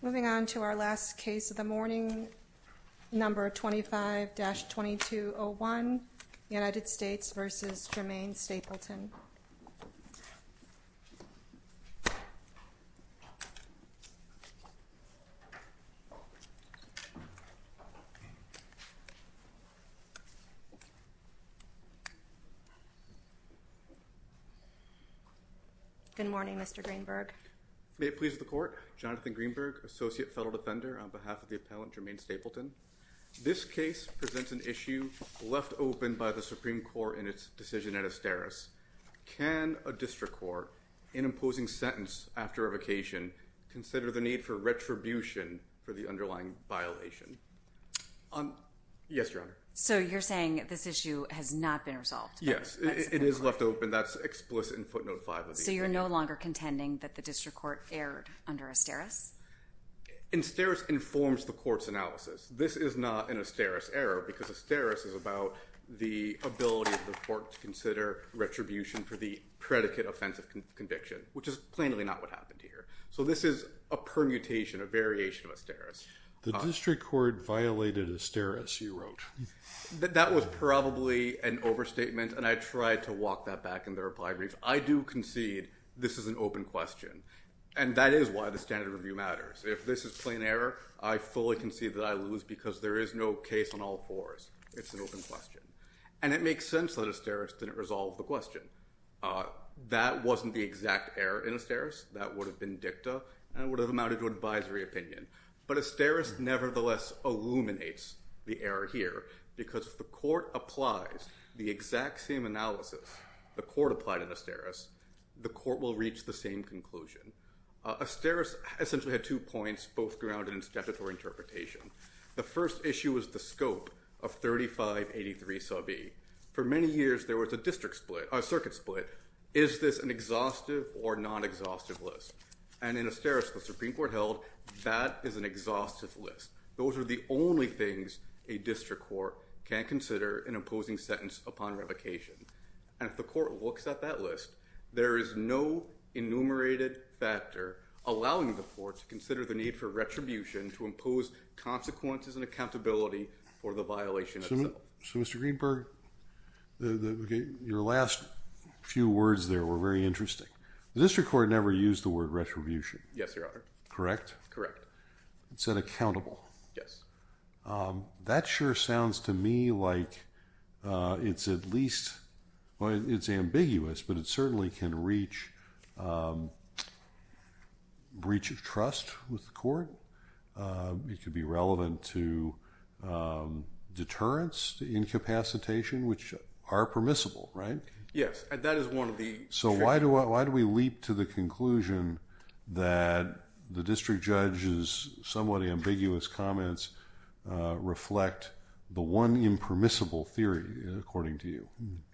Moving on to our last case of the morning, number 25-2201 United States v. Jermaine Stapleton. Good morning Mr. Greenberg. May it please the court, Jonathan Greenberg, Associate Federal Defender on behalf of the appellant Jermaine Stapleton. This case presents an issue left open by the Supreme Court in its decision at Asteris. Can a district court, in imposing sentence after revocation, consider the need for retribution for the underlying violation? Yes, Your Honor. So you're saying this issue has not been resolved? Yes, it is left open. That's explicit in footnote 5 of the opinion. So you're no longer contending that the district court erred under Asteris? Asteris informs the court's analysis. This is not an Asteris error because Asteris is about the ability of the court to consider retribution for the predicate offensive conviction, which is plainly not what happened here. So this is a permutation, a variation of Asteris. The district court violated Asteris, you wrote. That was probably an overstatement and I tried to walk that back in the reply brief. I do concede this is an open question, and that is why the standard review matters. If this is plain error, I fully concede that I lose because there is no case on all fours. It's an open question. And it makes sense that Asteris didn't resolve the question. That wasn't the exact error in Asteris. That would have been dicta and would have amounted to advisory opinion. But Asteris nevertheless illuminates the error here because if the court applies the exact same analysis the court applied in Asteris, the court will reach the same conclusion. Asteris essentially had two points, both grounded in statutory interpretation. The first issue was the scope of 3583 sub E. For many years, there was a circuit split. Is this an exhaustive or non-exhaustive list? And in Asteris, the Supreme Court held that is an exhaustive list. Those are the only things a district court can consider in imposing sentence upon revocation. And if the court looks at that list, there is no enumerated factor allowing the court to consider the need for retribution to impose consequences and accountability for the violation itself. So, Mr. Greenberg, your last few words there were very interesting. The district court never used the word retribution. Yes, Your Honor. Correct? It said accountable. Yes. That sure sounds to me like it's at least, well, it's ambiguous, but it certainly can reach breach of trust with the court. It could be relevant to deterrence, incapacitation, which are permissible, right? Yes. So why do we leap to the conclusion that the district judge's somewhat ambiguous comments reflect the one impermissible theory, according to you?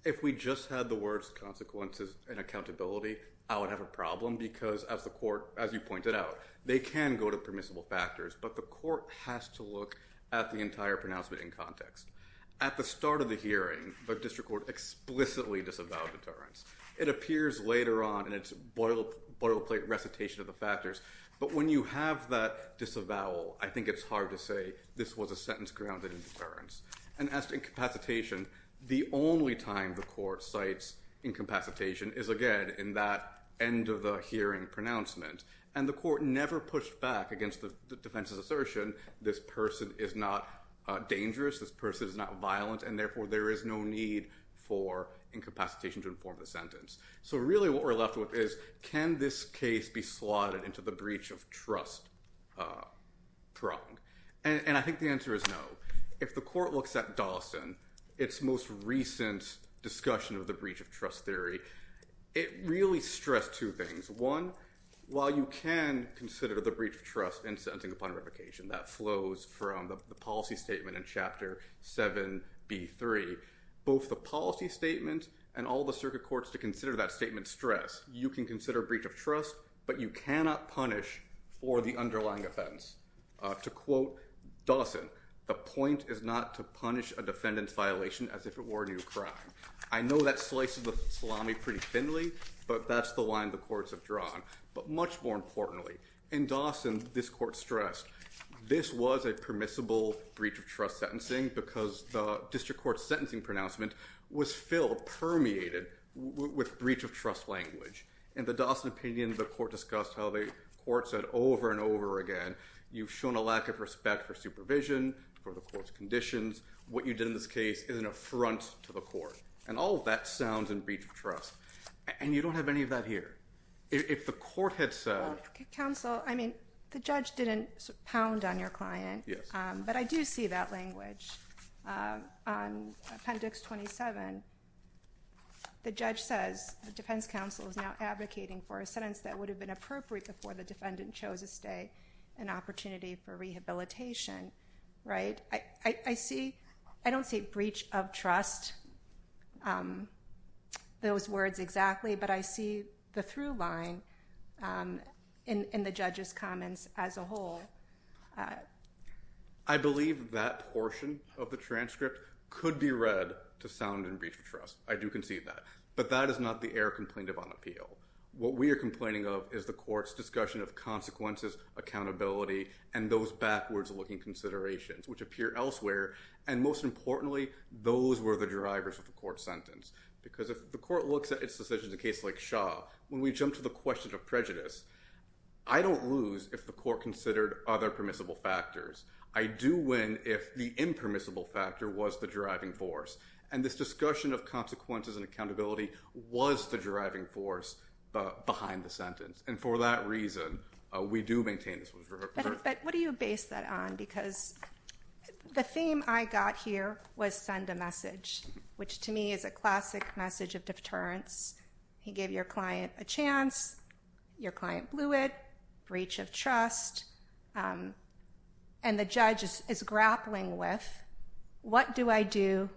If we just had the words consequences and accountability, I would have a problem because, as you pointed out, they can go to permissible factors, but the court has to look at the entire pronouncement in context. At the start of the hearing, the district court explicitly disavowed deterrence. It appears later on in its boilerplate recitation of the factors, but when you have that disavowal, I think it's hard to say this was a sentence grounded in deterrence. And as to incapacitation, the only time the court cites incapacitation is, again, in that end of the hearing pronouncement. And the court never pushed back against the defense's assertion, this person is not dangerous, this person is not violent, and therefore there is no need for incapacitation to inform the sentence. So really what we're left with is, can this case be slotted into the breach of trust prong? And I think the answer is no. If the court looks at Dawson, its most recent discussion of the breach of trust theory, it really stressed two things. One, while you can consider the breach of trust in sentencing upon revocation, that flows from the policy statement in Chapter 7b.3, both the policy statement and all the circuit courts to consider that statement stress, you can consider breach of trust, but you cannot punish for the underlying offense. To quote Dawson, the point is not to punish a defendant's violation as if it were a new crime. I know that slices the salami pretty thinly, but that's the line the courts have drawn. But much more importantly, in Dawson, this court stressed, this was a permissible breach of trust sentencing because the district court's sentencing pronouncement was still permeated with breach of trust language. In the Dawson opinion, the court discussed how the court said over and over again, you've shown a lack of respect for supervision, for the court's conditions. What you did in this case is an affront to the court. And all of that sounds in breach of trust. And you don't have any of that here. If the court had said- Counsel, I mean, the judge didn't pound on your client. Yes. But I do see that language. On Appendix 27, the judge says the defense counsel is now advocating for a sentence that would have been appropriate before the defendant chose to stay, an opportunity for rehabilitation. I don't see breach of trust, those words exactly. But I see the through line in the judge's comments as a whole. I believe that portion of the transcript could be read to sound in breach of trust. I do concede that. But that is not the error complaint of on appeal. What we are complaining of is the court's discussion of consequences, accountability, and those backwards-looking considerations, which appear elsewhere. And most importantly, those were the drivers of the court's sentence. Because if the court looks at its decisions in a case like Shaw, when we jump to the question of prejudice, I don't lose if the court considered other permissible factors. I do win if the impermissible factor was the driving force. And this discussion of consequences and accountability was the driving force behind the sentence. And for that reason, we do maintain this. But what do you base that on? Because the theme I got here was send a message, which to me is a classic message of deterrence. He gave your client a chance. Your client blew it. Breach of trust. And the judge is grappling with, what do I do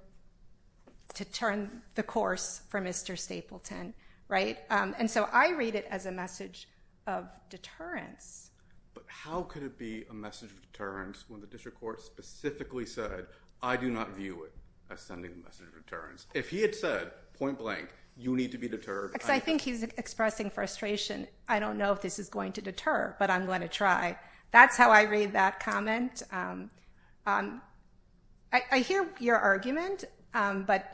to turn the course for Mr. Stapleton? And so I read it as a message of deterrence. But how could it be a message of deterrence when the district court specifically said, I do not view it as sending a message of deterrence? If he had said, point blank, you need to be deterred. Because I think he's expressing frustration. I don't know if this is going to deter, but I'm going to try. That's how I read that comment. I hear your argument, but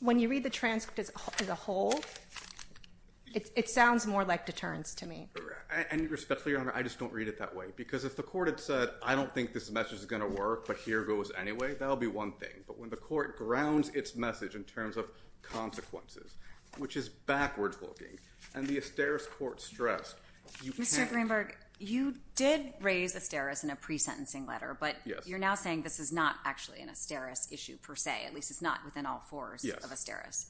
when you read the transcript as a whole, it sounds more like deterrence to me. And respectfully, Your Honor, I just don't read it that way. Because if the court had said, I don't think this message is going to work, but here goes anyway, that would be one thing. But when the court grounds its message in terms of consequences, which is backwards looking, and the Asteris court stressed, you can't. Mr. Greenberg, you did raise Asteris in a pre-sentencing letter. But you're now saying this is not actually an Asteris issue per se. At least it's not within all fours of Asteris.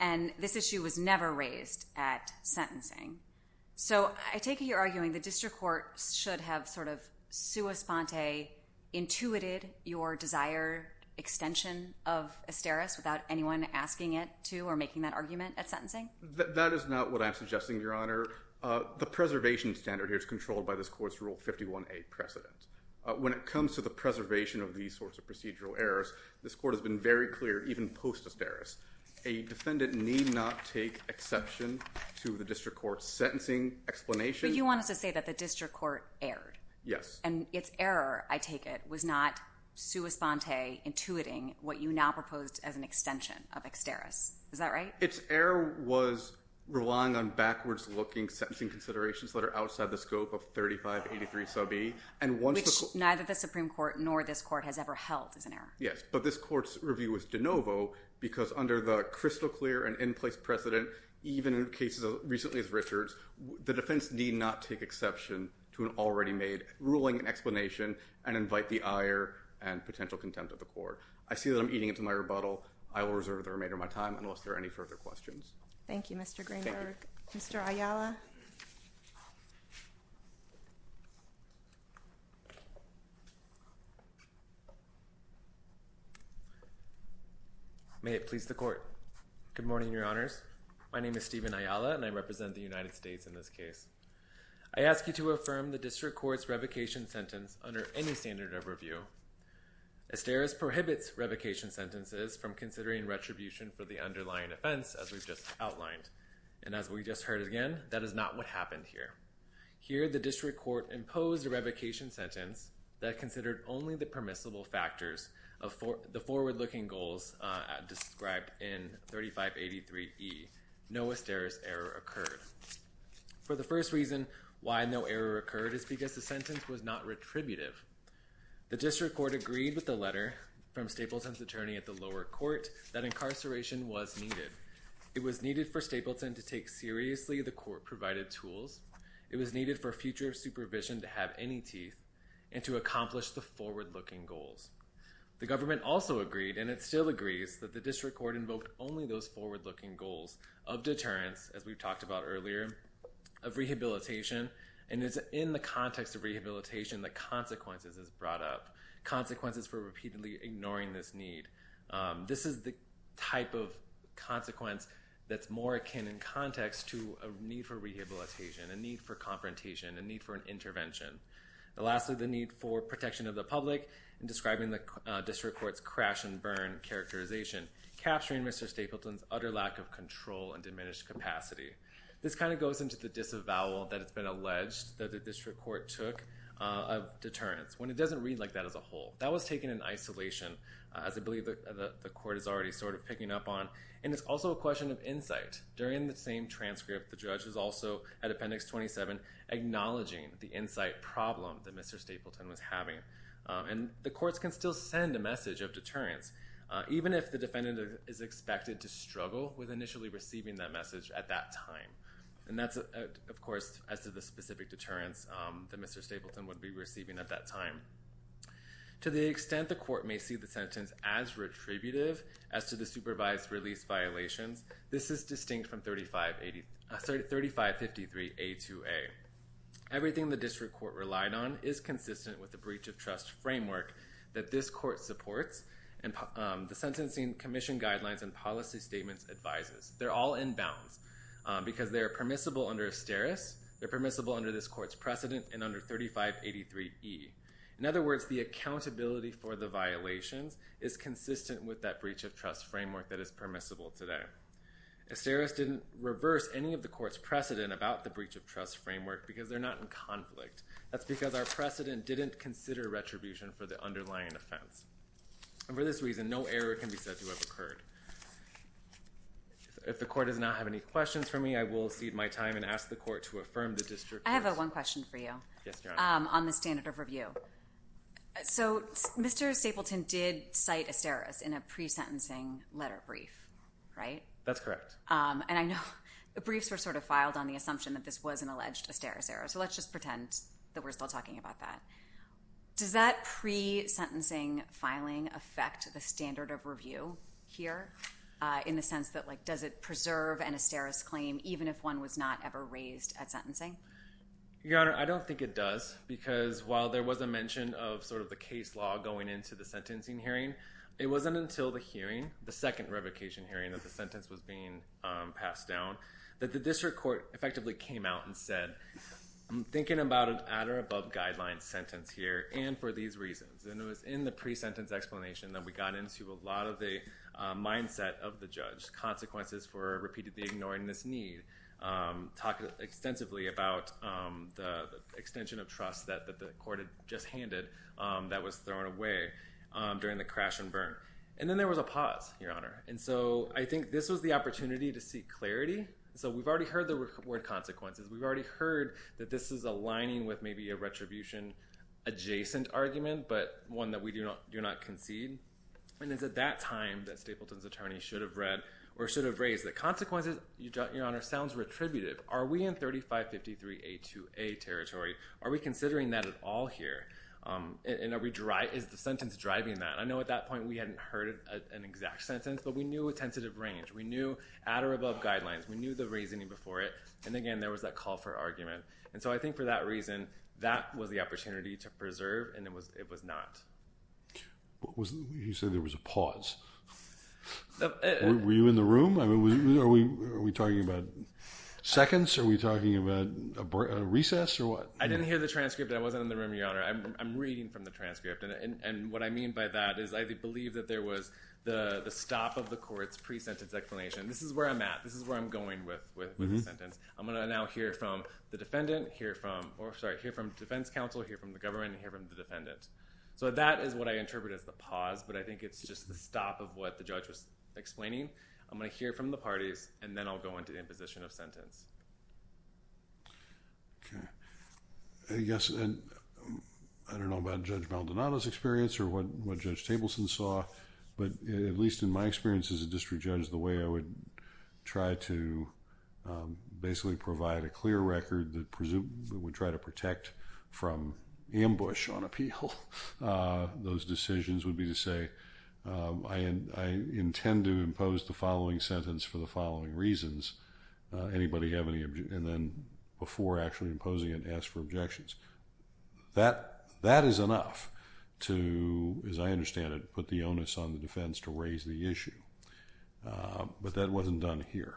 And this issue was never raised at sentencing. So I take it you're arguing the district court should have sort of sua sponte intuited your desired extension of Asteris without anyone asking it to or making that argument at sentencing? That is not what I'm suggesting, Your Honor. The preservation standard here is controlled by this court's Rule 51a precedent. When it comes to the preservation of these sorts of procedural errors, this court has been very clear, even post-Asteris, a defendant need not take exception to the district court's sentencing explanation. But you want us to say that the district court erred. Yes. And its error, I take it, was not sua sponte intuiting what you now proposed as an extension of Asteris. Is that right? Its error was relying on backwards looking sentencing considerations that are outside the scope of 3583 sub e. Which neither the Supreme Court nor this court has ever held as an error. Yes. But this court's review was de novo because under the crystal clear and in place precedent, even in cases as recently as Richard's, the defense need not take exception to an already made ruling and explanation and invite the ire and potential contempt of the court. I see that I'm eating into my rebuttal. I will reserve the remainder of my time unless there are any further questions. Thank you, Mr. Greenberg. Thank you. Mr. Ayala. May it please the court. Good morning, your honors. My name is Steven Ayala and I represent the United States in this case. I ask you to affirm the district court's revocation sentence under any standard of review. Asteris prohibits revocation sentences from considering retribution for the underlying offense as we've just outlined. And as we just heard again, that is not what happened here. Here the district court imposed a revocation sentence that considered only the permissible factors of the forward looking goals described in 3583E. No asteris error occurred. For the first reason why no error occurred is because the sentence was not retributive. The district court agreed with the letter from Stapleton's attorney at the lower court that incarceration was needed. It was needed for Stapleton to take seriously the court provided tools. It was needed for future supervision to have any teeth and to accomplish the forward looking goals. The government also agreed, and it still agrees, that the district court invoked only those forward looking goals of deterrence, as we've talked about earlier, of rehabilitation. And it's in the context of rehabilitation that consequences is brought up. Consequences for repeatedly ignoring this need. This is the type of consequence that's more akin in context to a need for rehabilitation, a need for confrontation, a need for an intervention. Lastly, the need for protection of the public in describing the district court's crash and burn characterization, capturing Mr. Stapleton's utter lack of control and diminished capacity. This kind of goes into the disavowal that has been alleged that the district court took of deterrence, when it doesn't read like that as a whole. That was taken in isolation, as I believe the court is already sort of picking up on. And it's also a question of insight. During the same transcript, the judge is also, at Appendix 27, acknowledging the insight problem that Mr. Stapleton was having. And the courts can still send a message of deterrence, even if the defendant is expected to struggle with initially receiving that message at that time. And that's, of course, as to the specific deterrence that Mr. Stapleton would be receiving at that time. To the extent the court may see the sentence as retributive as to the supervised release violations, this is distinct from 3553A2A. Everything the district court relied on is consistent with the breach of trust framework that this court supports and the Sentencing Commission guidelines and policy statements advises. They're all in bounds, because they are permissible under Asteris, they're permissible under this court's precedent, and under 3583E. In other words, the accountability for the violations is consistent with that breach of trust framework that is permissible today. Asteris didn't reverse any of the court's precedent about the breach of trust framework, because they're not in conflict. That's because our precedent didn't consider retribution for the underlying offense. And for this reason, no error can be said to have occurred. If the court does not have any questions for me, I will cede my time and ask the court to affirm the district court's… I have one question for you on the standard of review. So Mr. Stapleton did cite Asteris in a pre-sentencing letter brief, right? That's correct. And I know the briefs were sort of filed on the assumption that this was an alleged Asteris error, so let's just pretend that we're still talking about that. Does that pre-sentencing filing affect the standard of review here in the sense that, like, does it preserve an Asteris claim even if one was not ever raised at sentencing? Your Honor, I don't think it does, because while there was a mention of sort of the case law going into the sentencing hearing, it wasn't until the hearing, the second revocation hearing that the sentence was being passed down, that the district court effectively came out and said, I'm thinking about an at-or-above-guidelines sentence here, and for these reasons. And it was in the pre-sentence explanation that we got into a lot of the mindset of the judge, consequences for repeatedly ignoring this need, talking extensively about the extension of trust that the court had just handed that was thrown away during the crash and burn. And then there was a pause, Your Honor. And so I think this was the opportunity to seek clarity. So we've already heard the word consequences. We've already heard that this is aligning with maybe a retribution-adjacent argument, but one that we do not concede. And is it that time that Stapleton's attorney should have read or should have raised the consequences? Your Honor, it sounds retributive. Are we in 3553A2A territory? Are we considering that at all here? And is the sentence driving that? I know at that point we hadn't heard an exact sentence, but we knew a tentative range. We knew at-or-above guidelines. We knew the reasoning before it. And again, there was that call for argument. And so I think for that reason, that was the opportunity to preserve, and it was not. You said there was a pause. Were you in the room? I mean, are we talking about seconds? Are we talking about a recess or what? I didn't hear the transcript. I wasn't in the room, Your Honor. I'm reading from the transcript. And what I mean by that is I believe that there was the stop of the court's pre-sentence explanation. This is where I'm at. This is where I'm going with the sentence. I'm going to now hear from the defendant, hear from the defense counsel, hear from the government, and hear from the defendant. So that is what I interpret as the pause, but I think it's just the stop of what the judge was explaining. I'm going to hear from the parties, and then I'll go into the imposition of sentence. Okay. Yes, and I don't know about Judge Maldonado's experience or what Judge Tableson saw, but at least in my experience as a district judge, the way I would try to basically provide a clear record that would try to protect from ambush on appeal, those decisions would be to say, I intend to impose the following sentence for the following reasons. Anybody have any, and then before actually imposing it, ask for objections. That is enough to, as I understand it, put the onus on the defense to raise the issue. But that wasn't done here.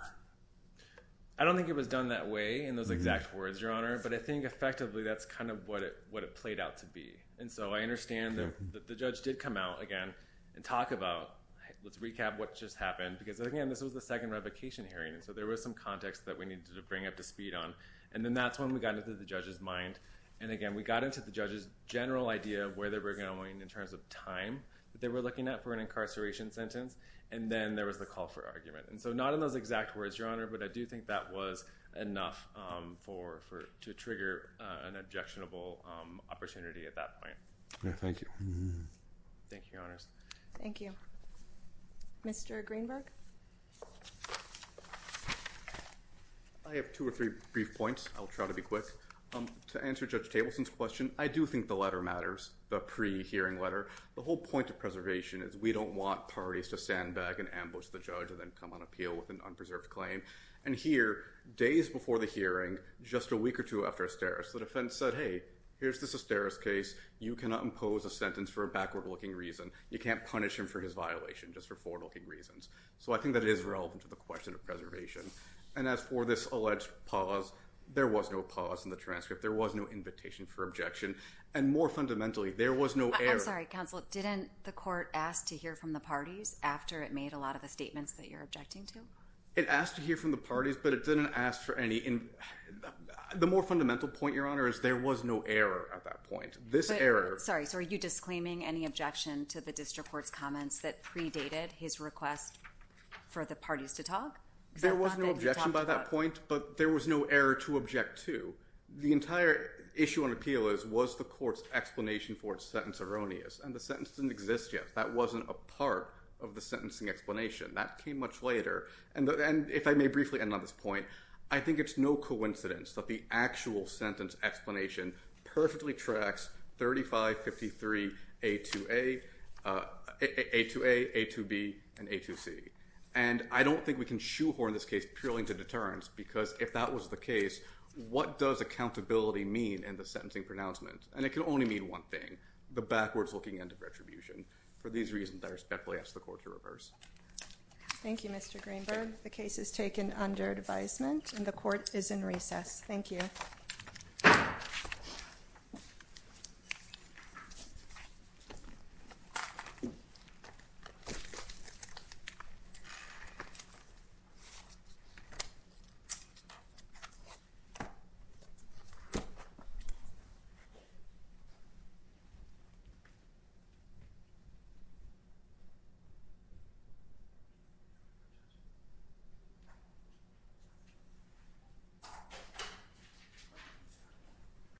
I don't think it was done that way in those exact words, Your Honor, but I think effectively that's kind of what it played out to be. And so I understand that the judge did come out again and talk about, let's recap what just happened, because again, this was the second revocation hearing, and so there was some context that we needed to bring up to speed on. And then that's when we got into the judge's mind. And again, we got into the judge's general idea of where they were going in terms of time that they were looking at for an incarceration sentence, and then there was the call for argument. And so not in those exact words, Your Honor, but I do think that was enough to trigger an objectionable opportunity at that point. Thank you. Thank you, Your Honors. Thank you. Mr. Greenberg. I have two or three brief points. I'll try to be quick. To answer Judge Tableson's question, I do think the letter matters, the pre-hearing letter. The whole point of preservation is we don't want parties to stand back and ambush the judge and then come on appeal with an unpreserved claim. And here, days before the hearing, just a week or two after asterisks, the defense said, hey, here's this asterisks case. You cannot impose a sentence for a backward-looking reason. You can't punish him for his violation just for forward-looking reasons. So I think that it is relevant to the question of preservation. And as for this alleged pause, there was no pause in the transcript. There was no invitation for objection. And more fundamentally, there was no error. I'm sorry, counsel. Didn't the court ask to hear from the parties after it made a lot of the statements that you're objecting to? It asked to hear from the parties, but it didn't ask for any. The more fundamental point, Your Honor, is there was no error at that point. Sorry, so are you disclaiming any objection to the district court's comments that predated his request for the parties to talk? There was no objection by that point, but there was no error to object to. The entire issue on appeal was, was the court's explanation for its sentence erroneous? And the sentence didn't exist yet. That wasn't a part of the sentencing explanation. That came much later. And if I may briefly end on this point, I think it's no coincidence that the actual sentence explanation perfectly tracks 3553A2A, A2B, and A2C. And I don't think we can shoehorn this case purely into deterrence because if that was the case, what does accountability mean in the sentencing pronouncement? And it can only mean one thing, the backwards-looking end of retribution. For these reasons, I respectfully ask the court to reverse. Thank you, Mr. Greenberg. The case is taken under advisement, and the court is in recess. Thank you. Thank you.